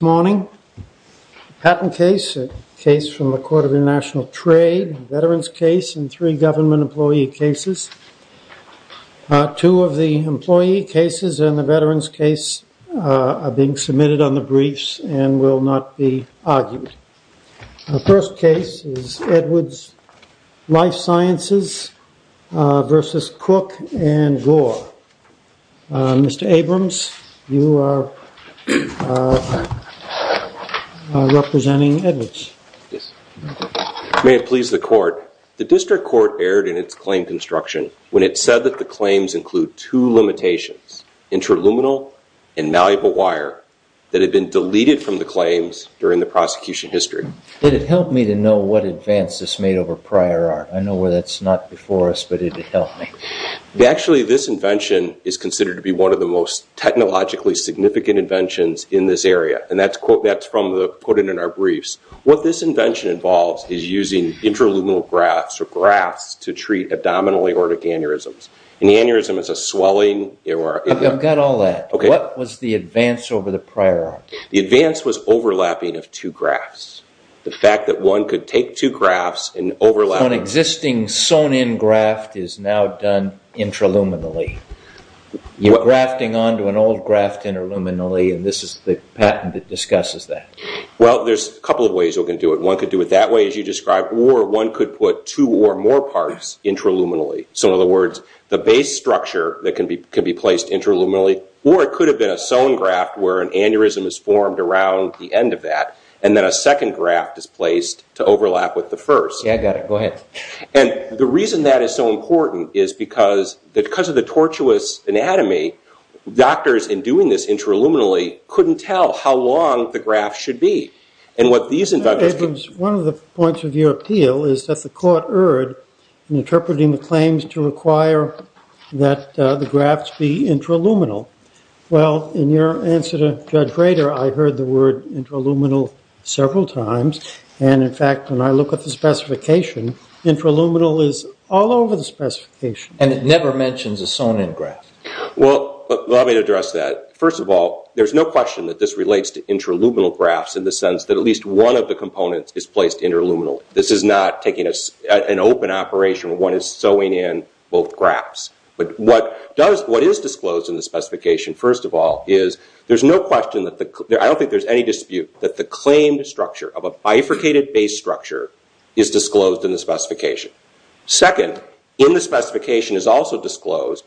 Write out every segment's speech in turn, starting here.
Good morning. A patent case, a case from the Court of International Trade, a veterans case, and three government employee cases. Two of the employee cases and the veterans case are being submitted on the briefs and will not be argued. The first case is Edwards Lifesciences v. Cook and Gore. Mr. Abrams, you are representing Edwards. Yes. May it please the Court, the district court erred in its claim construction when it said that the claims include two limitations, interluminal and malleable wire, that had been deleted from the claims during the prosecution history. Did it help me to know what advance this made over prior art? I know that's not before us, but did it help me? Actually, this invention is considered to be one of the most technologically significant inventions in this area. And that's from the quote in our briefs. What this invention involves is using interluminal grafts or grafts to treat abdominal aortic aneurysms. An aneurysm is a swelling or... I've got all that. What was the advance over the prior art? The advance was overlapping of two grafts. The fact that one could take two grafts and overlap... So an existing sewn-in graft is now done interluminally. You're grafting onto an old graft interluminally, and this is the patent that discusses that. Well, there's a couple of ways you can do it. One could do it that way, as you described, or one could put two or more parts interluminally. So in other words, the base structure that can be placed interluminally, or it could have been a sewn graft where an aneurysm is formed around the end of that, and then a second graft is placed to overlap with the first. Yeah, I got it. Go ahead. And the reason that is so important is because of the tortuous anatomy, doctors, in doing this interluminally, couldn't tell how long the graft should be. And what these inventors... One of the points of your appeal is that the court erred in interpreting the claims to require that the grafts be interluminal. Well, in your answer to Judge Grader, I heard the word interluminal several times. And, in fact, when I look at the specification, interluminal is all over the specification. And it never mentions a sewn-in graft. Well, let me address that. First of all, there's no question that this relates to interluminal grafts in the sense that at least one of the components is placed interluminal. This is not taking an open operation where one is sewing in both grafts. But what is disclosed in the specification, first of all, is there's no question that the... bifurcated base structure is disclosed in the specification. Second, in the specification is also disclosed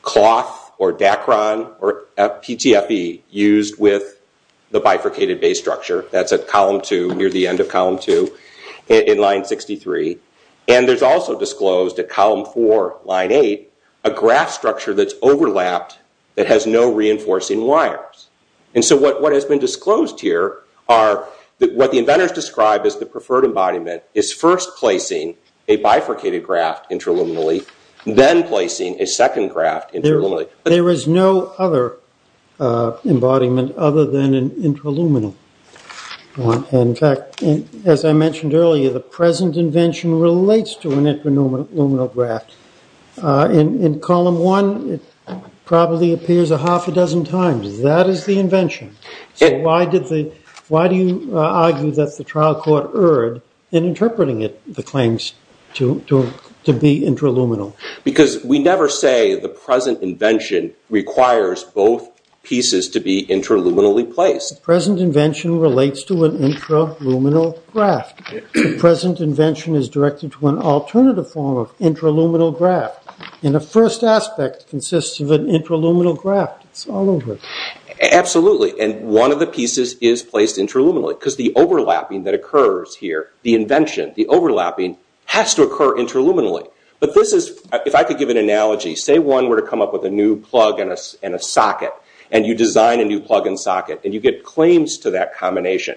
cloth or Dacron or PTFE used with the bifurcated base structure. That's at Column 2, near the end of Column 2 in Line 63. And there's also disclosed at Column 4, Line 8, a graft structure that's overlapped that has no reinforcing wires. And so what has been disclosed here are what the inventors described as the preferred embodiment is first placing a bifurcated graft interluminally, then placing a second graft interluminally. There is no other embodiment other than an interluminal. And, in fact, as I mentioned earlier, the present invention relates to an interluminal graft. In Column 1, it probably appears a half a dozen times. That is the invention. So why do you argue that the trial court erred in interpreting it, the claims to be interluminal? Because we never say the present invention requires both pieces to be interluminally placed. The present invention relates to an interluminal graft. The present invention is directed to an alternative form of interluminal graft. And the first aspect consists of an interluminal graft. It's all over. Absolutely. And one of the pieces is placed interluminally, because the overlapping that occurs here, the invention, the overlapping, has to occur interluminally. But this is, if I could give an analogy, say one were to come up with a new plug and a socket, and you design a new plug and socket, and you get claims to that combination.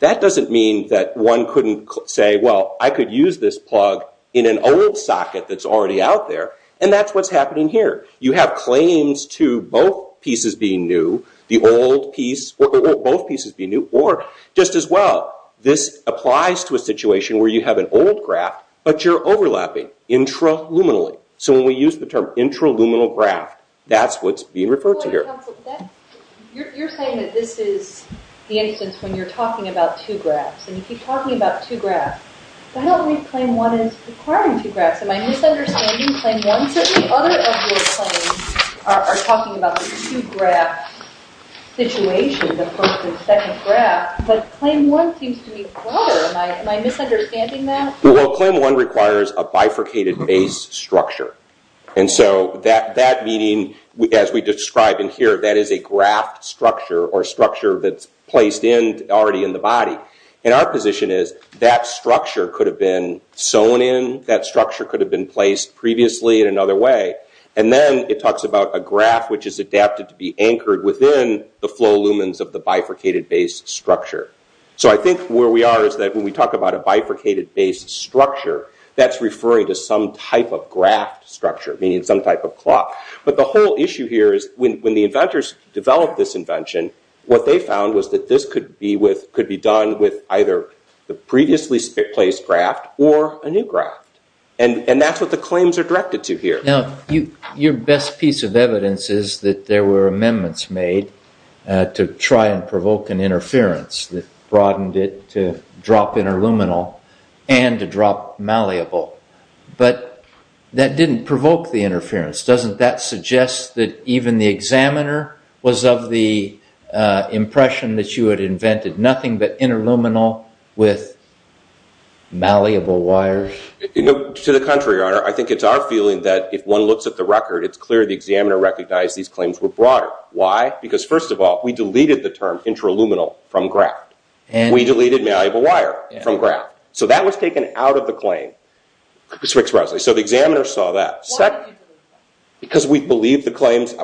That doesn't mean that one couldn't say, well, I could use this plug in an old socket that's already out there. And that's what's happening here. You have claims to both pieces being new, or just as well. This applies to a situation where you have an old graft, but you're overlapping interluminally. So when we use the term interluminal graft, that's what's being referred to here. You're saying that this is the instance when you're talking about two grafts, and you keep talking about two grafts. But I don't think Claim 1 is requiring two grafts. Am I misunderstanding Claim 1? Certainly other of your claims are talking about the two graft situation, the first and second graft. But Claim 1 seems to be broader. Am I misunderstanding that? Well, Claim 1 requires a bifurcated base structure. And so that meaning, as we describe in here, that is a graft structure, or a structure that's placed already in the body. And our position is that structure could have been sewn in. That structure could have been placed previously in another way. And then it talks about a graft which is adapted to be anchored within the flow lumens of the bifurcated base structure. So I think where we are is that when we talk about a bifurcated base structure, that's referring to some type of graft structure, meaning some type of clot. But the whole issue here is when the inventors developed this invention, what they found was that this could be done with either the previously placed graft or a new graft. And that's what the claims are directed to here. Now, your best piece of evidence is that there were amendments made to try and provoke an interference that broadened it to drop interluminal and to drop malleable. But that didn't provoke the interference. Doesn't that suggest that even the examiner was of the impression that you had invented nothing but interluminal with malleable wires? To the contrary, Your Honor. I think it's our feeling that if one looks at the record, it's clear the examiner recognized these claims were broader. Why? Because, first of all, we deleted the term interluminal from graft. We deleted malleable wire from graft. So that was taken out of the claim. So the examiner saw that. Because we believe the claims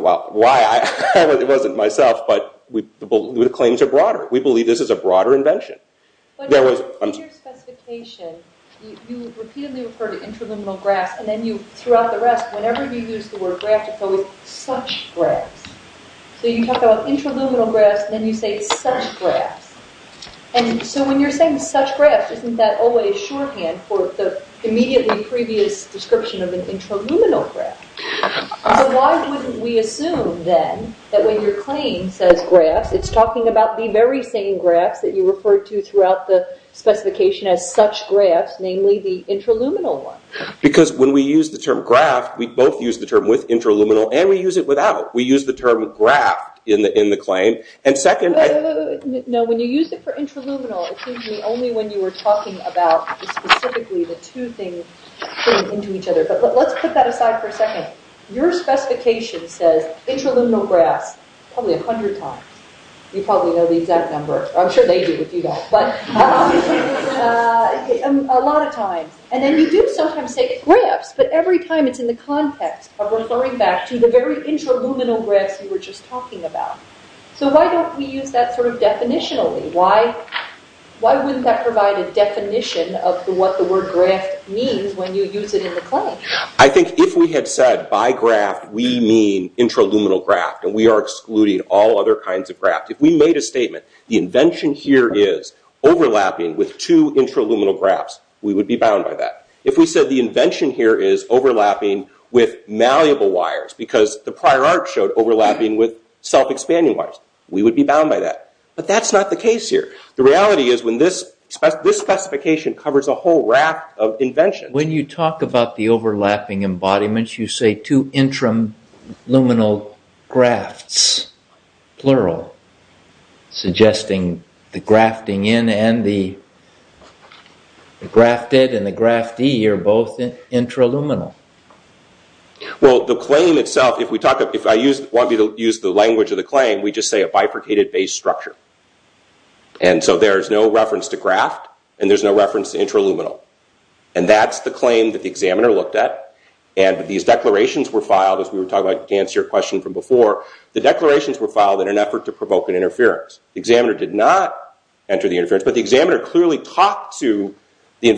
are broader. We believe this is a broader invention. In your specification, you repeatedly refer to interluminal grafts. And then throughout the rest, whenever you use the word graft, it's always such grafts. So you talk about interluminal grafts, and then you say such grafts. And so when you're saying such grafts, isn't that always shorthand for the immediately previous description of an interluminal graft? So why wouldn't we assume, then, that when your claim says grafts, it's talking about the very same grafts that you referred to throughout the specification as such grafts, namely the interluminal one? Because when we use the term graft, we both use the term with interluminal, and we use it without. We use the term graft in the claim. And second— Wait, wait, wait. No, when you use it for interluminal, it seems to me only when you were talking about specifically the two things into each other. But let's put that aside for a second. Your specification says interluminal grafts probably a hundred times. You probably know the exact number. I'm sure they do if you don't. But a lot of times. And then you do sometimes say grafts, but every time it's in the context of referring back to the very interluminal grafts you were just talking about. So why don't we use that sort of definitionally? Why wouldn't that provide a definition of what the word graft means when you use it in the claim? I think if we had said by graft we mean interluminal graft and we are excluding all other kinds of graft, if we made a statement, the invention here is overlapping with two interluminal grafts, we would be bound by that. If we said the invention here is overlapping with malleable wires because the prior art showed overlapping with self-expanding wires, we would be bound by that. But that's not the case here. The reality is this specification covers a whole raft of inventions. When you talk about the overlapping embodiments, you say two interluminal grafts, plural, suggesting the grafting in and the grafted and the graftee are both interluminal. Well, the claim itself, if I want to use the language of the claim, we just say a bifurcated base structure. And so there's no reference to graft and there's no reference to interluminal. And that's the claim that the examiner looked at. And these declarations were filed, as we were talking about to answer your question from before, the declarations were filed in an effort to provoke an interference. The examiner did not enter the interference. But the examiner clearly talked to the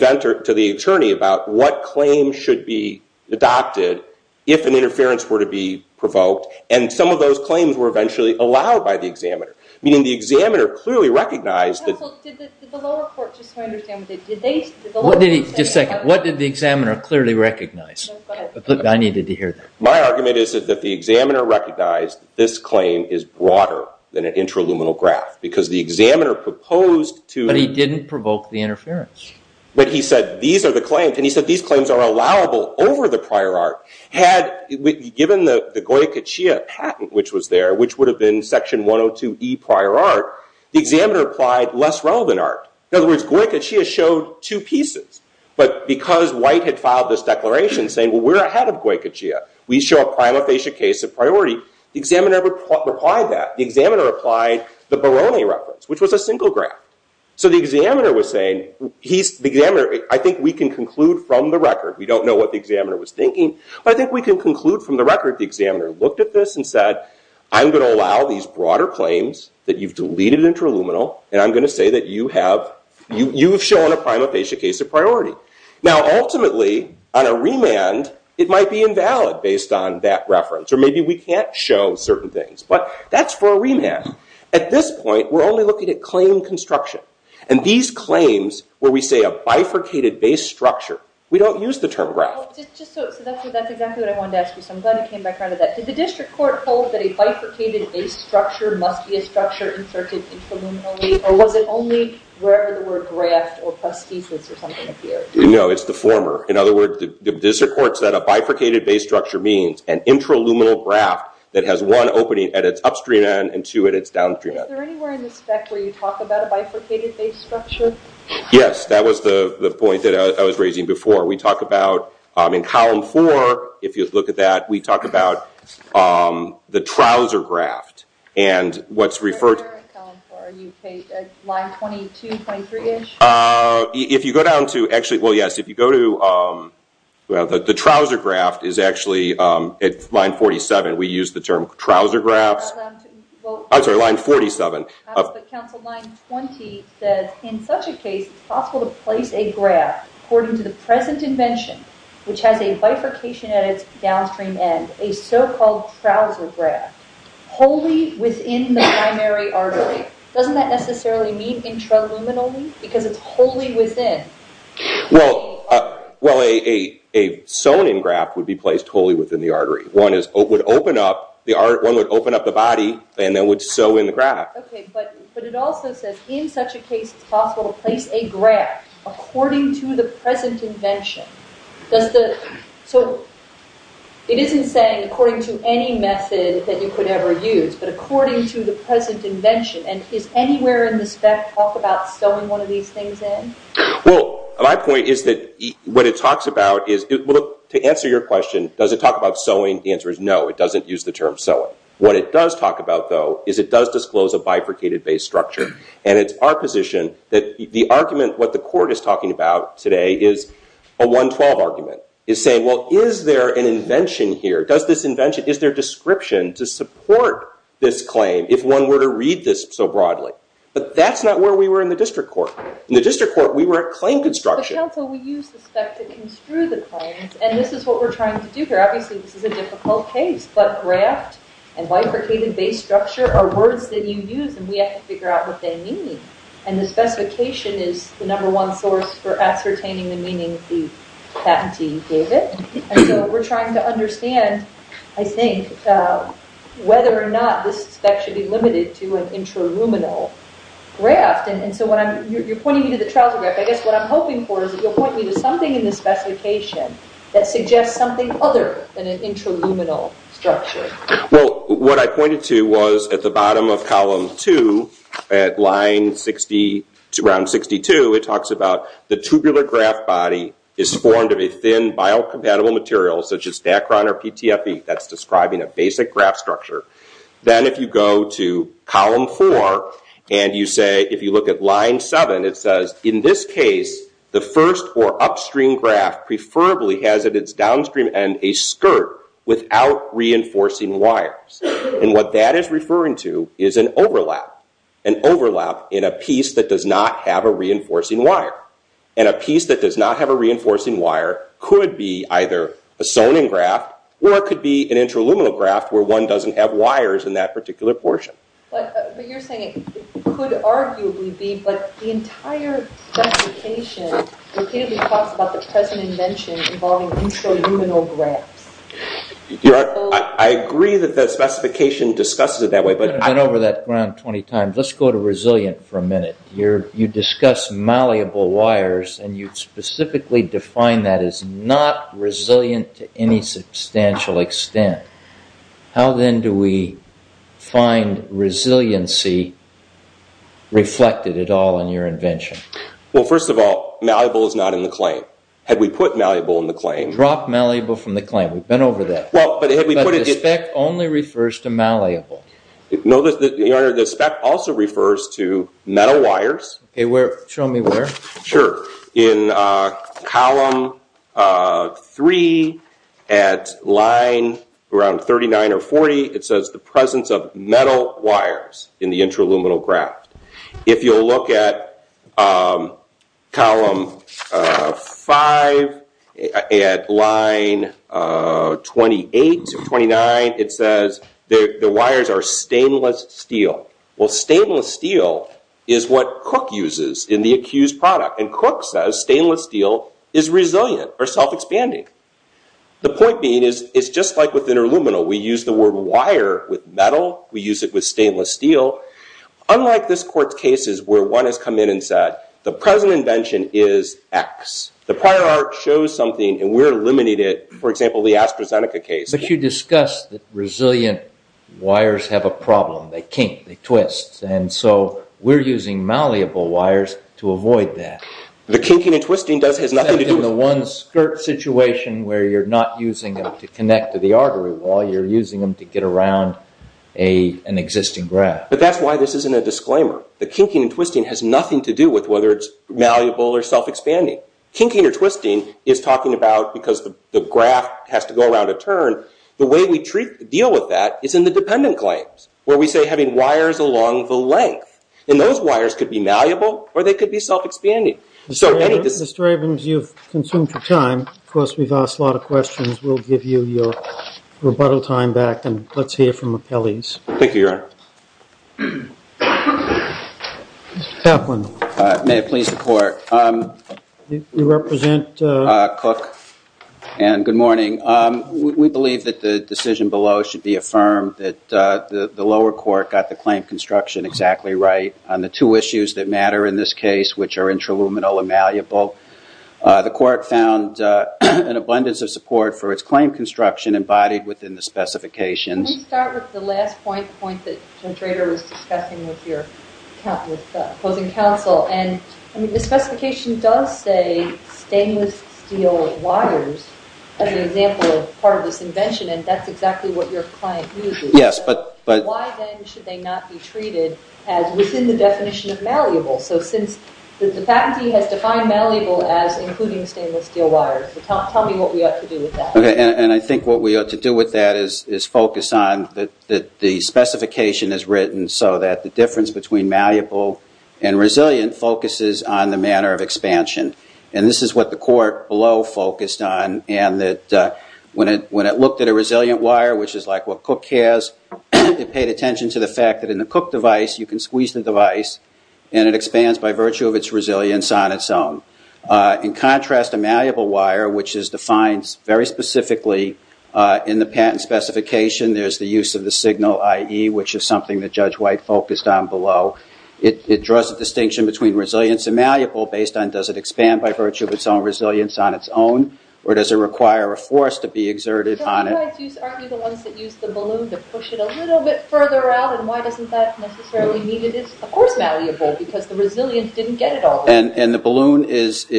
attorney about what claims should be adopted if an interference were to be provoked. And some of those claims were eventually allowed by the examiner. Meaning the examiner clearly recognized that- Counsel, did the lower court, just so I understand, did they- Just a second. What did the examiner clearly recognize? Go ahead. I needed to hear that. My argument is that the examiner recognized this claim is broader than an interluminal graft. Because the examiner proposed to- But he didn't provoke the interference. But he said these are the claims. And he said these claims are allowable over the prior art. Given the Goethe-Chia patent, which was there, which would have been section 102E prior art, the examiner applied less relevant art. In other words, Goethe-Chia showed two pieces. But because White had filed this declaration saying, well, we're ahead of Goethe-Chia, we show a prima facie case of priority, the examiner applied that. The examiner applied the Barone reference, which was a single graft. So the examiner was saying, I think we can conclude from the record. We don't know what the examiner was thinking. But I think we can conclude from the record the examiner looked at this and said, I'm going to allow these broader claims that you've deleted interluminal. And I'm going to say that you have shown a prima facie case of priority. Now, ultimately, on a remand, it might be invalid based on that reference. Or maybe we can't show certain things. But that's for a remand. At this point, we're only looking at claim construction. And these claims where we say a bifurcated base structure, we don't use the term graft. So that's exactly what I wanted to ask you. So I'm glad you came back around to that. Did the district court hold that a bifurcated base structure must be a structure inserted interluminally? Or was it only wherever the word graft or prosthesis or something appeared? No, it's the former. In other words, the district court said a bifurcated base structure means an interluminal graft that has one opening at its upstream end and two at its downstream end. Is there anywhere in the spec where you talk about a bifurcated base structure? Yes, that was the point that I was raising before. We talk about in column four, if you look at that, we talk about the trouser graft. And what's referred to— Where is that in column four? Are you at line 22, 23-ish? If you go down to—actually, well, yes. If you go to—well, the trouser graft is actually at line 47. We use the term trouser grafts. I'm sorry, line 47. But, counsel, line 20 says, in such a case, it's possible to place a graft, according to the present invention, which has a bifurcation at its downstream end, a so-called trouser graft, wholly within the primary artery. Doesn't that necessarily mean interluminally? Because it's wholly within. Well, a sewn-in graft would be placed wholly within the artery. One would open up the body and then would sew in the graft. But it also says, in such a case, it's possible to place a graft, according to the present invention. Does the—so, it isn't saying according to any method that you could ever use, but according to the present invention. And is anywhere in the spec talked about sewing one of these things in? Well, my point is that what it talks about is— Well, look, to answer your question, does it talk about sewing? The answer is no. It doesn't use the term sewing. What it does talk about, though, is it does disclose a bifurcated base structure. And it's our position that the argument, what the court is talking about today, is a 112 argument. It's saying, well, is there an invention here? Does this invention—is there a description to support this claim, if one were to read this so broadly? But that's not where we were in the district court. In the district court, we were at claim construction. But, counsel, we use the spec to construe the claims, and this is what we're trying to do here. Obviously, this is a difficult case. But graft and bifurcated base structure are words that you use, and we have to figure out what they mean. And the specification is the number one source for ascertaining the meaning the patentee gave it. And so we're trying to understand, I think, whether or not this spec should be limited to an intraluminal graft. And so when I'm—you're pointing me to the trouser graft. I guess what I'm hoping for is that you'll point me to something in the specification that suggests something other than an intraluminal structure. Well, what I pointed to was at the bottom of column 2 at line 60, around 62, it talks about the tubular graft body is formed of a thin biocompatible material such as Dacron or PTFE. That's describing a basic graft structure. Then if you go to column 4, and you say—if you look at line 7, it says, in this case, the first or upstream graft preferably has at its downstream end a skirt without reinforcing wires. And what that is referring to is an overlap. An overlap in a piece that does not have a reinforcing wire. And a piece that does not have a reinforcing wire could be either a sonin graft or it could be an intraluminal graft where one doesn't have wires in that particular portion. But you're saying it could arguably be, but the entire specification repeatedly talks about the present invention involving intraluminal grafts. I agree that the specification discusses it that way, but— I've been over that ground 20 times. Let's go to resilient for a minute. You discuss malleable wires, and you specifically define that as not resilient to any substantial extent. How then do we find resiliency reflected at all in your invention? Well, first of all, malleable is not in the claim. Had we put malleable in the claim— I've been over that. But the spec only refers to malleable. No, Your Honor, the spec also refers to metal wires. Show me where. Sure. In column 3 at line around 39 or 40, it says the presence of metal wires in the intraluminal graft. If you'll look at column 5 at line 28 to 29, it says the wires are stainless steel. Well, stainless steel is what Cook uses in the accused product. And Cook says stainless steel is resilient or self-expanding. The point being is it's just like with intraluminal. We use the word wire with metal. We use it with stainless steel. Unlike this Court's cases where one has come in and said the present invention is X. The prior art shows something and we're limiting it. For example, the AstraZeneca case. But you discussed that resilient wires have a problem. They kink, they twist. And so we're using malleable wires to avoid that. The kinking and twisting has nothing to do with— Except in the one skirt situation where you're not using them to connect to the artery wall. You're using them to get around an existing graft. But that's why this isn't a disclaimer. The kinking and twisting has nothing to do with whether it's malleable or self-expanding. Kinking or twisting is talking about because the graft has to go around a turn. The way we deal with that is in the dependent claims where we say having wires along the length. And those wires could be malleable or they could be self-expanding. Mr. Ravens, you've consumed your time. Of course, we've asked a lot of questions. We'll give you your rebuttal time back and let's hear from the appellees. Thank you, Your Honor. Mr. Kaplan. May it please the court. You represent? Cook. And good morning. We believe that the decision below should be affirmed that the lower court got the claim construction exactly right on the two issues that matter in this case which are intraluminal and malleable. The court found an abundance of support for its claim construction embodied within the specifications. Can we start with the last point, the point that Judge Rader was discussing with your opposing counsel? And the specification does say stainless steel wires as an example of part of this invention and that's exactly what your client uses. Yes, but... Why then should they not be treated as within the definition of malleable? So since the patentee has defined malleable as including stainless steel wires, tell me what we ought to do with that. Okay, and I think what we ought to do with that is focus on that the specification is written so that the difference between malleable and resilient focuses on the manner of expansion. And this is what the court below focused on and that when it looked at a resilient wire, which is like what Cook has, it paid attention to the fact that in the Cook device you can squeeze the device and it expands by virtue of its resilience on its own. In contrast, a malleable wire, which is defined very specifically in the patent specification, there's the use of the signal IE, which is something that Judge White focused on below. It draws a distinction between resilience and malleable based on does it expand by virtue of its own resilience on its own or does it require a force to be exerted on it? So you argue the ones that use the balloon that push it a little bit further out and why doesn't that necessarily mean it is, of course, malleable because the resilience didn't get it all the way. And the balloon is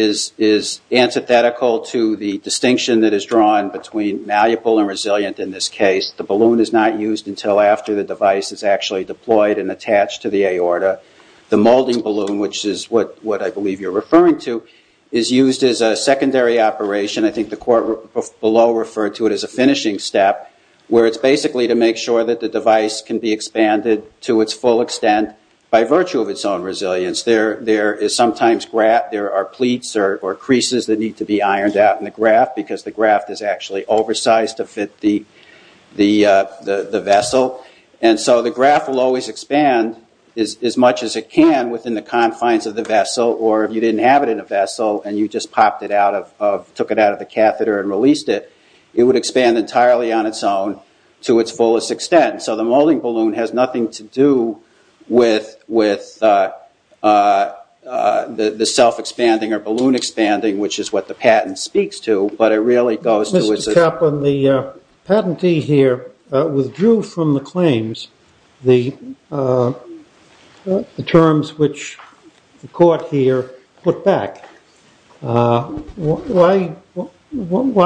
antithetical to the distinction that is drawn between malleable and resilient in this case. The balloon is not used until after the device is actually deployed and attached to the aorta. The molding balloon, which is what I believe you're referring to, is used as a secondary operation. I think the court below referred to it as a finishing step where it's basically to make sure that the device can be expanded to its full extent by virtue of its own resilience. Sometimes there are pleats or creases that need to be ironed out in the graft because the graft is actually oversized to fit the vessel. And so the graft will always expand as much as it can within the confines of the vessel or if you didn't have it in a vessel and you just took it out of the catheter and released it, it would expand entirely on its own to its fullest extent. So the molding balloon has nothing to do with the self-expanding or balloon expanding, which is what the patent speaks to. But it really goes to its own. Mr. Kaplan, the patentee here withdrew from the claims the terms which the court here put back. Why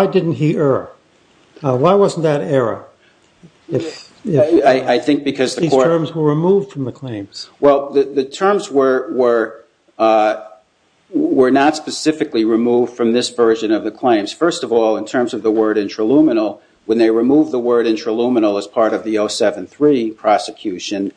didn't he err? Why wasn't that error? I think because the court... These terms were removed from the claims. Well, the terms were not specifically removed from this version of the claims. First of all, in terms of the word intraluminal, when they removed the word intraluminal as part of the 073 prosecution,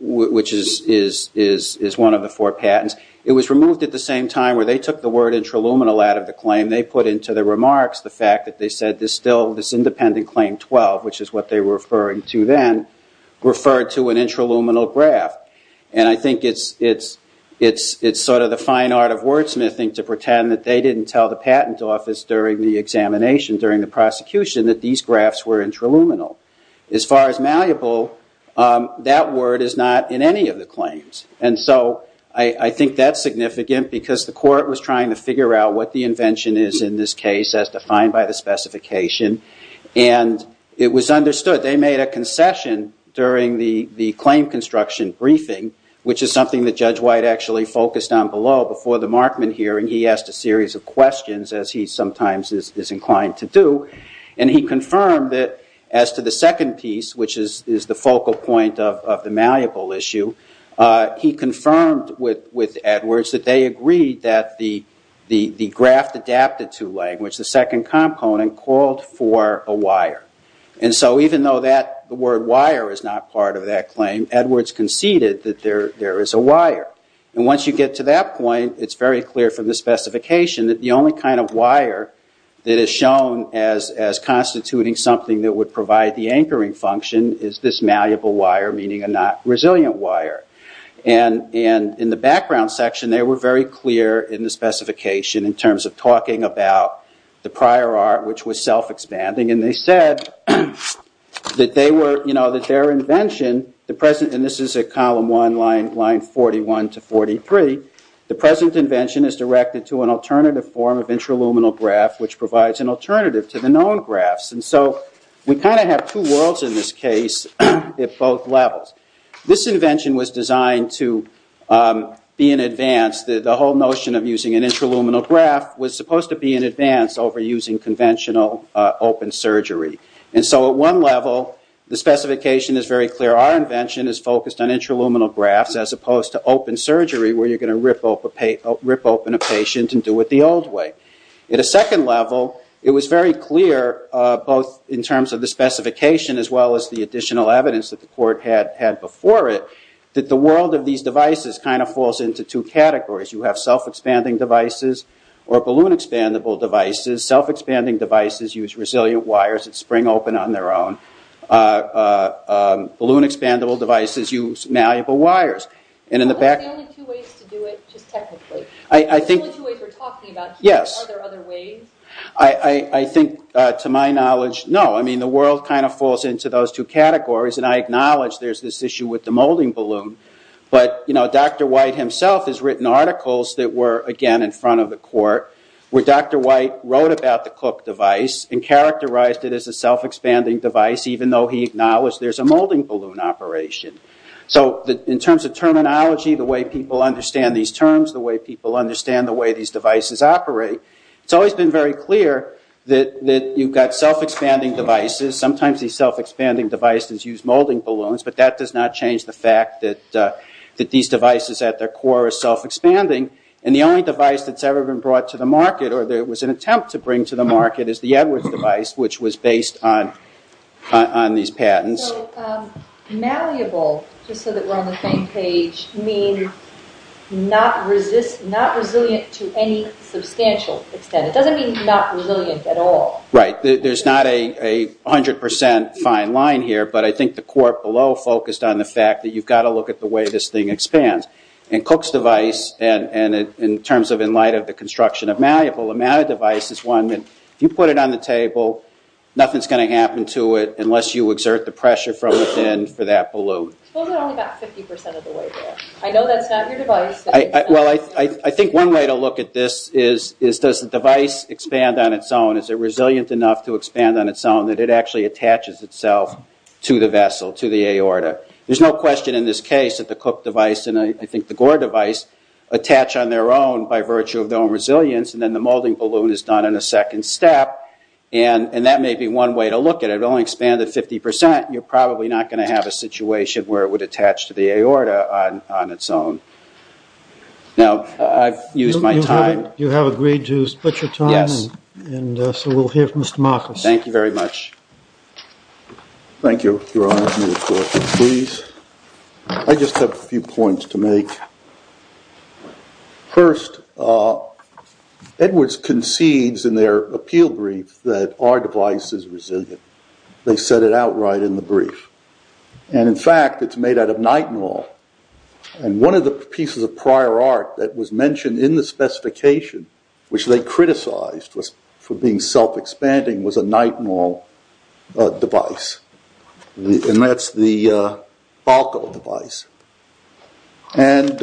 which is one of the four patents, it was removed at the same time where they took the word intraluminal out of the claim. They put into the remarks the fact that they said there's still this independent claim 12, which is what they were referring to then, referred to an intraluminal graph. And I think it's sort of the fine art of wordsmithing to pretend that they didn't tell the patent office during the examination, during the prosecution, that these graphs were intraluminal. As far as malleable, that word is not in any of the claims. And so I think that's significant because the court was trying to figure out what the invention is in this case as defined by the specification. And it was understood. They made a concession during the claim construction briefing, which is something that Judge White actually focused on below before the Markman hearing. He asked a series of questions, as he sometimes is inclined to do. And he confirmed that as to the second piece, which is the focal point of the malleable issue, he confirmed with Edwards that they agreed that the graph adapted to language, the second component, called for a wire. And so even though the word wire is not part of that claim, Edwards conceded that there is a wire. And once you get to that point, it's very clear from the specification that the only kind of wire that is shown as constituting something that would provide the anchoring function is this malleable wire, meaning a not resilient wire. And in the background section, they were very clear in the specification in terms of talking about the prior art, which was self-expanding. And they said that their invention, and this is at column one, line 41 to 43, the present invention is directed to an alternative form of intraluminal graph, which provides an alternative to the known graphs. And so we kind of have two worlds in this case at both levels. This invention was designed to be in advance. The whole notion of using an intraluminal graph was supposed to be in advance over using conventional open surgery. And so at one level, the specification is very clear. Our invention is focused on intraluminal graphs as opposed to open surgery, where you're going to rip open a patient and do it the old way. At a second level, it was very clear, both in terms of the specification as well as the additional evidence that the court had before it, that the world of these devices kind of falls into two categories. You have self-expanding devices or balloon-expandable devices. Self-expanding devices use resilient wires that spring open on their own. Balloon-expandable devices use malleable wires. And in the back... What are the only two ways to do it, just technically? The only two ways we're talking about. Yes. Are there other ways? I think, to my knowledge, no. I mean, the world kind of falls into those two categories, and I acknowledge there's this issue with the molding balloon. But Dr. White himself has written articles that were, again, in front of the court where Dr. White wrote about the COOK device and characterized it as a self-expanding device, even though he acknowledged there's a molding balloon operation. So in terms of terminology, the way people understand these terms, the way people understand the way these devices operate, it's always been very clear that you've got self-expanding devices. Sometimes these self-expanding devices use molding balloons, but that does not change the fact that these devices, at their core, are self-expanding. And the only device that's ever been brought to the market, or there was an attempt to bring to the market, is the Edwards device, which was based on these patents. So, malleable, just so that we're on the same page, means not resilient to any substantial extent. It doesn't mean not resilient at all. Right. There's not a 100% fine line here, but I think the court below focused on the fact that you've got to look at the way this thing expands. And Cook's device, in terms of in light of the construction of malleable, a malleable device is one that, if you put it on the table, nothing's going to happen to it unless you exert the pressure from within for that balloon. Suppose it only got 50% of the way through. I know that's not your device. Well, I think one way to look at this is does the device expand on its own? Is it resilient enough to expand on its own that it actually attaches itself to the vessel, to the aorta? There's no question in this case that the Cook device and I think the Gore device attach on their own by virtue of their own resilience, and then the molding balloon is done in a second step. And that may be one way to look at it. If it only expanded 50%, you're probably not going to have a situation where it would attach to the aorta on its own. Now, I've used my time. You have agreed to split your time? Yes. And so we'll hear from Mr. Marcos. Thank you very much. Thank you for allowing me to talk. Please. I just have a few points to make. First, Edwards concedes in their appeal brief that our device is resilient. They said it outright in the brief. And in fact, it's made out of nitinol. And one of the pieces of prior art that was mentioned in the specification, which they criticized for being self-expanding, was a nitinol device. And that's the ALCO device. And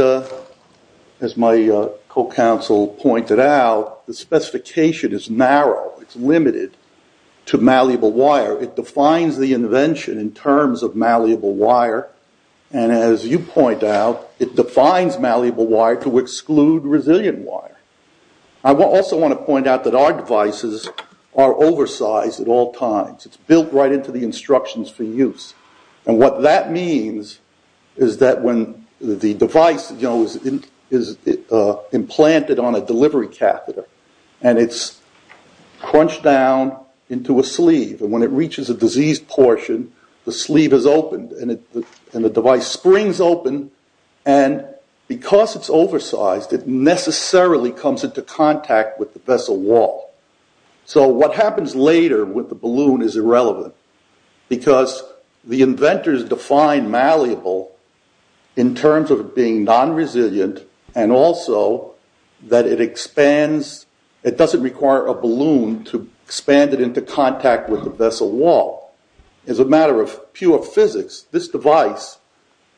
as my co-counsel pointed out, the specification is narrow. It's limited to malleable wire. It defines the invention in terms of malleable wire. And as you point out, it defines malleable wire to exclude resilient wire. I also want to point out that our devices are oversized at all times. It's built right into the instructions for use. And what that means is that when the device, you know, is implanted on a delivery catheter and it's crunched down into a sleeve, and when it reaches a diseased portion, the sleeve is opened and the device springs open. And because it's oversized, it necessarily comes into contact with the vessel wall. So what happens later with the balloon is irrelevant because the inventors define malleable in terms of being non-resilient and also that it expands. It doesn't require a balloon to expand it into contact with the vessel wall. As a matter of pure physics, this device,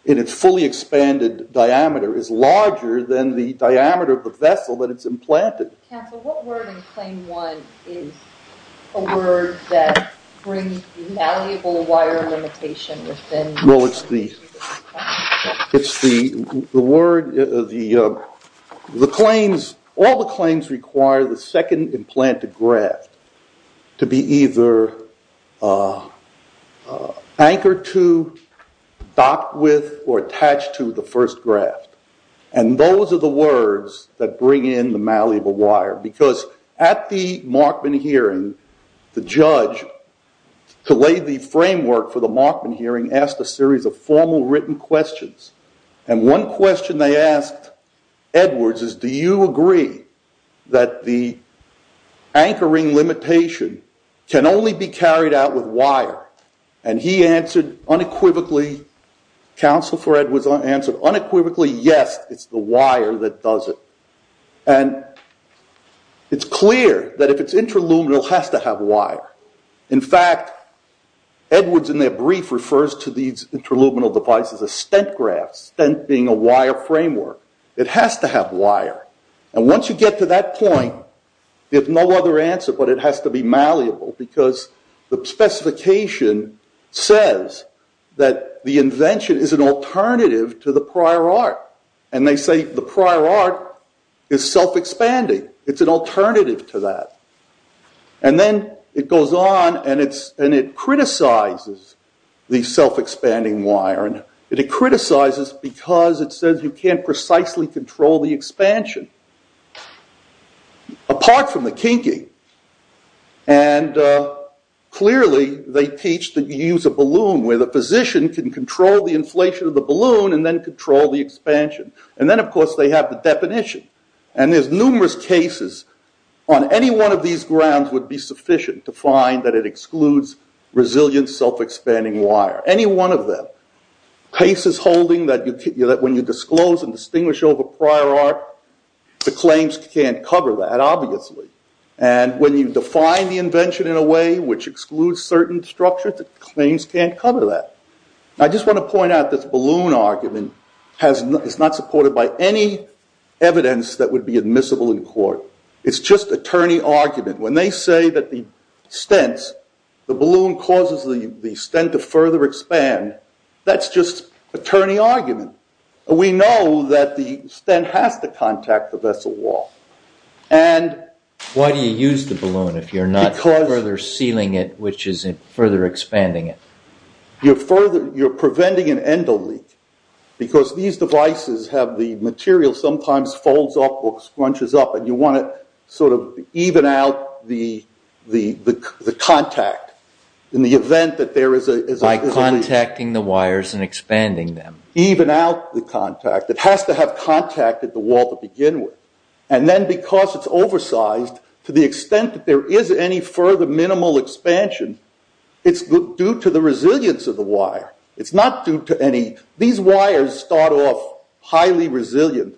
in its fully expanded diameter, is larger than the diameter of the vessel that it's implanted. Council, what word in Claim 1 is a word that brings malleable wire limitation within... Well, it's the... It's the word... The claims... All the claims require the second implanted graft to be either anchored to, docked with, or attached to the first graft. And those are the words that bring in the malleable wire because at the Markman hearing, the judge, to lay the framework for the Markman hearing, asked a series of formal written questions. And one question they asked Edwards is, do you agree that the anchoring limitation can only be carried out with wire? And he answered unequivocally... Council for Edwards answered unequivocally, yes, it's the wire that does it. And it's clear that if it's interluminal, it has to have wire. In fact, Edwards, in their brief, refers to these interluminal devices as stent grafts, stent being a wire framework. It has to have wire. And once you get to that point, there's no other answer but it has to be malleable because the specification says that the invention is an alternative to the prior art. And they say the prior art is self-expanding. It's an alternative to that. And then it goes on and it criticizes the self-expanding wire. And it criticizes because it says you can't precisely control the expansion. Apart from the kinking. And clearly, they teach that you use a balloon where the physician can control the inflation of the balloon and then control the expansion. And then, of course, they have the definition. And there's numerous cases on any one of these grounds would be sufficient to find that it excludes resilient self-expanding wire. Any one of them. Cases holding that when you disclose and distinguish over prior art, the claims can't cover that, obviously. And when you define the invention in a way which excludes certain structures, the claims can't cover that. I just want to point out this balloon argument is not supported by any evidence that would be admissible in court. It's just attorney argument. When they say that the stents, the balloon causes the stent to further expand, that's just attorney argument. We know that the stent has to contact the vessel wall. Why do you use the balloon if you're not further sealing it, which is further expanding it? You're preventing an endo leak because these devices have the material sometimes folds up or scrunches up and you want to sort of even out the contact in the event that there is a leak. By contacting the wires and expanding them. Even out the contact. It has to have contacted the wall to begin with. And then because it's oversized to the extent that there is any further minimal expansion, it's due to the resilience of the wire. It's not due to any... These wires start off highly resilient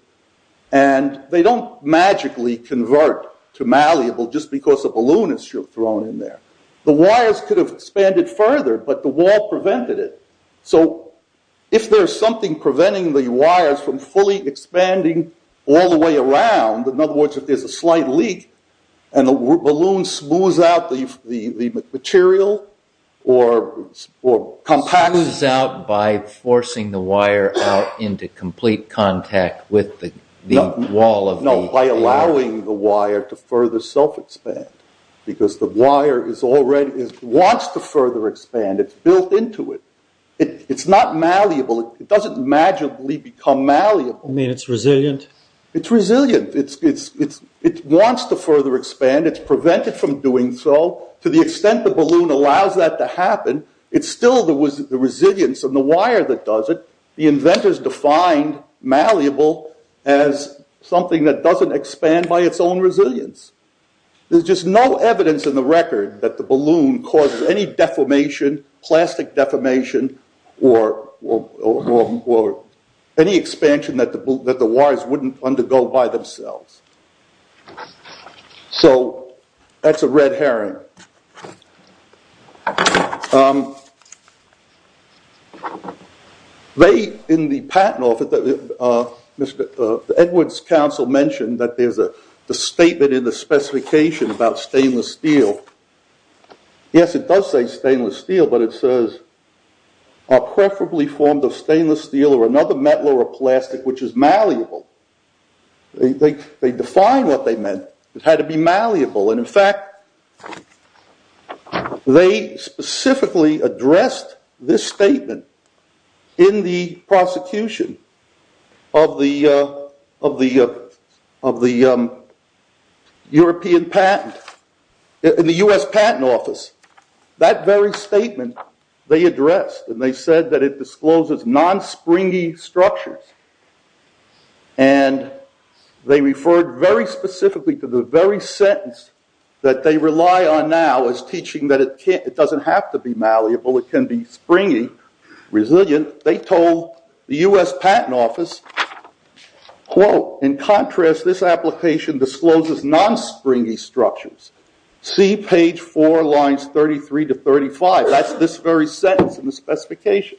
and they don't magically convert to malleable just because a balloon is thrown in there. The wires could have expanded further but the wall prevented it. So if there's something preventing the wires from fully expanding all the way around, in other words, if there's a slight leak and the balloon smooths out the material or compacts... Smooths out by forcing the wire out into complete contact with the wall of the... No, by allowing the wire to further self-expand because the wire wants to further expand. It's built into it. It's not malleable. It doesn't magically become malleable. You mean it's resilient? It's resilient. It wants to further expand. It's prevented from doing so. To the extent the balloon allows that to happen, it's still the resilience of the wire that does it. The inventors defined malleable as something that doesn't expand by its own resilience. There's just no evidence in the record that the balloon causes any deformation, plastic deformation, or any expansion that the wires wouldn't undergo by themselves. So that's a red herring. They, in the patent office, the Edwards Council mentioned that there's a statement in the specification about stainless steel. Yes, it does say stainless steel, but it says, are preferably formed of stainless steel or another metal or plastic which is malleable. They defined what they meant. It had to be malleable. And, in fact, they specifically addressed this statement in the prosecution of the European patent, in the U.S. Patent Office. That very statement they addressed and they said that it discloses non-springy structures. And they referred very specifically to the very sentence that they rely on now as teaching that it doesn't have to be malleable. It can be springy, resilient. And they told the U.S. Patent Office, quote, in contrast, this application discloses non-springy structures. See page four, lines 33 to 35. That's this very sentence in the specification.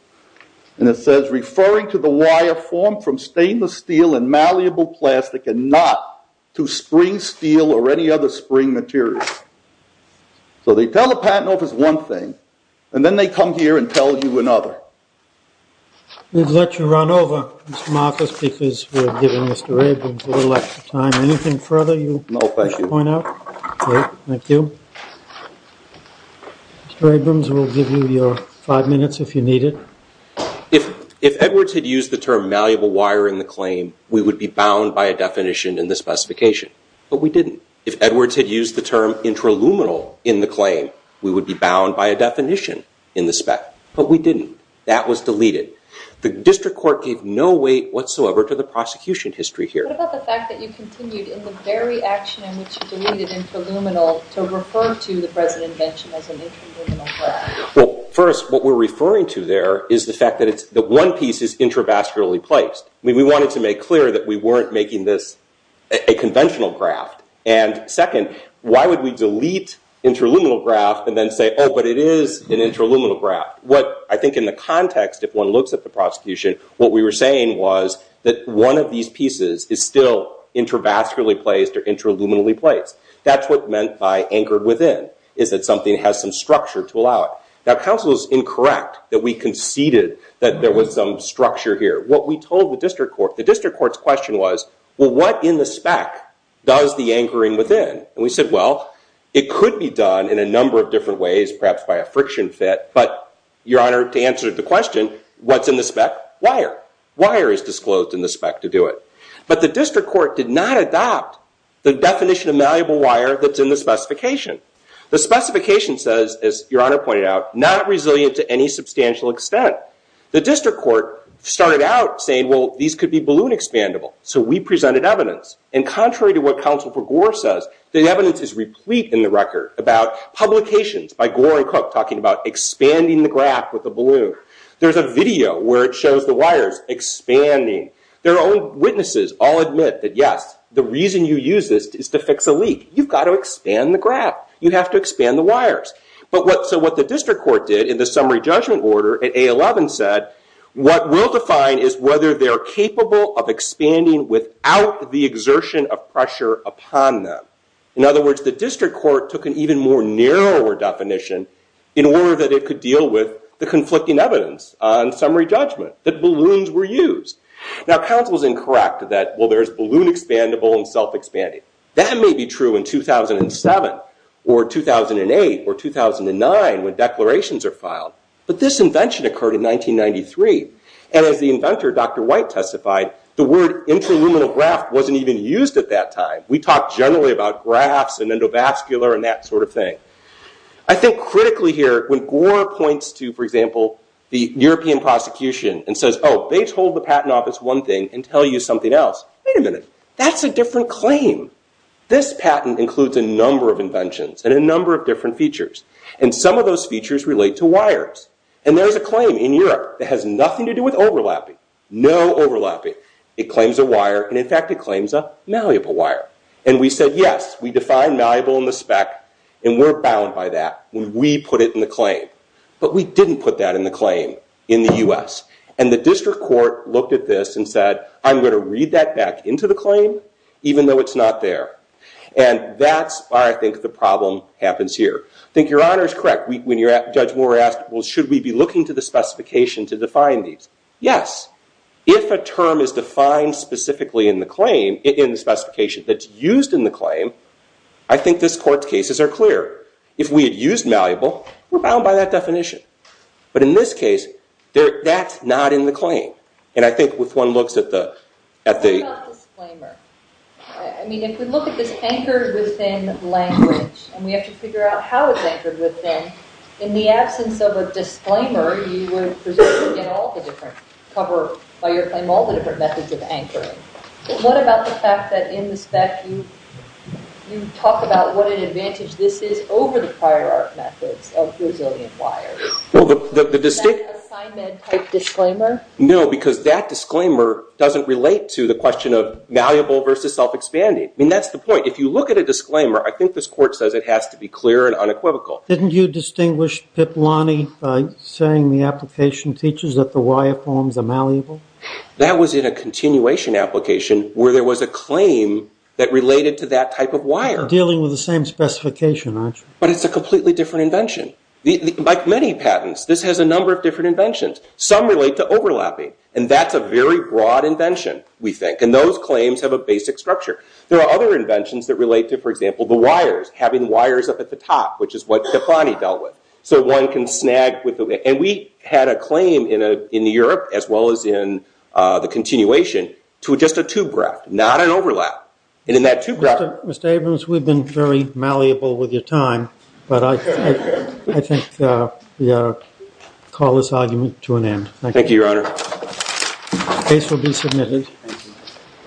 And it says, referring to the wire formed from stainless steel and malleable plastic and not to spring steel or any other spring material. So they tell the patent office one thing, and then they come here and tell you another. We've let you run over, Mr. Marcus, because we're giving Mr. Abrams a little extra time. Anything further you want to point out? No, thank you. Great, thank you. Mr. Abrams, we'll give you your five minutes if you need it. If Edwards had used the term malleable wire in the claim, we would be bound by a definition in the specification. But we didn't. If Edwards had used the term intraluminal in the claim, we would be bound by a definition in the spec. But we didn't. That was deleted. The district court gave no weight whatsoever to the prosecution history here. What about the fact that you continued, in the very action in which you deleted intraluminal, to refer to the present invention as an intraluminal graft? Well, first, what we're referring to there is the fact that one piece is intravascularly placed. We wanted to make clear that we weren't making this a conventional graft. And second, why would we delete intraluminal graft and then say, oh, but it is an intraluminal graft? I think in the context, if one looks at the prosecution, what we were saying was that one of these pieces is still intravascularly placed or intraluminally placed. That's what meant by anchored within, is that something has some structure to allow it. Now, counsel is incorrect that we conceded that there was some structure here. What we told the district court, the district court's question was, well, what in the spec does the anchoring within? And we said, well, it could be done in a number of different ways, perhaps by a friction fit. But, Your Honor, to answer the question, what's in the spec? Wire. Wire is disclosed in the spec to do it. But the district court did not adopt the definition of malleable wire that's in the specification. The specification says, as Your Honor pointed out, not resilient to any substantial extent. The district court started out saying, well, these could be balloon expandable. So we presented evidence. And contrary to what counsel for Gore says, the evidence is replete in the record about publications by Gore and Cook talking about expanding the graph with a balloon. There's a video where it shows the wires expanding. Their own witnesses all admit that, yes, the reason you use this is to fix a leak. You've got to expand the graph. You have to expand the wires. So what the district court did in the summary judgment order at A11 said, what we'll define is whether they're capable of expanding without the exertion of pressure upon them. In other words, the district court took an even more narrower definition in order that it could deal with the conflicting evidence on summary judgment, that balloons were used. Now, counsel's incorrect that, well, there's balloon expandable and self-expanding. That may be true in 2007 or 2008 or 2009 when declarations are filed. But this invention occurred in 1993. And as the inventor, Dr. White, testified, the word interluminal graph wasn't even used at that time. We talk generally about graphs and endovascular and that sort of thing. I think critically here, when Gore points to, for example, the European prosecution and says, oh, they told the Patent Office one thing and tell you something else, wait a minute. That's a different claim. This patent includes a number of inventions and a number of different features. And some of those features relate to wires. And there is a claim in Europe that has nothing to do with overlapping, no overlapping. It claims a wire. And in fact, it claims a malleable wire. And we said, yes, we define malleable in the spec. And we're bound by that when we put it in the claim. But we didn't put that in the claim in the US. And the district court looked at this and said, I'm going to read that back into the claim even though it's not there. And that's why I think the problem happens here. I think Your Honor is correct. When Judge Moore asked, well, should we be looking to the specification to define these? Yes. If a term is defined specifically in the claim, in the specification that's used in the claim, I think this court's cases are clear. If we had used malleable, we're bound by that definition. But in this case, that's not in the claim. And I think if one looks at the- What about disclaimer? I mean, if we look at this anchored within language and we have to figure out how it's anchored within, in the absence of a disclaimer, you would presume in all the different cover by your claim all the different methods of anchoring. But what about the fact that in the spec you talk about what an advantage this is over the prior art methods of resilient wires? Well, the distinct- Is that an assignment type disclaimer? No, because that disclaimer doesn't relate to the question of malleable versus self-expanding. I mean, that's the point. If you look at a disclaimer, I think this court says it has to be clear and unequivocal. Didn't you distinguish Piplani by saying the application teaches that the wire forms are malleable? That was in a continuation application where there was a claim that related to that type of wire. You're dealing with the same specification, aren't you? But it's a completely different invention. Like many patents, this has a number of different inventions. Some relate to overlapping. And that's a very broad invention, we think. And those claims have a basic structure. There are other inventions that relate to, for example, the wires, having wires up at the top, which is what Piplani dealt with. So one can snag with the- and we had a claim in Europe, as well as in the continuation, to just a tube graph, not an overlap. And in that tube graph- Mr. Abrams, we've been very malleable with your time. But I think we ought to call this argument to an end. Thank you. Thank you, Your Honor. Case will be submitted.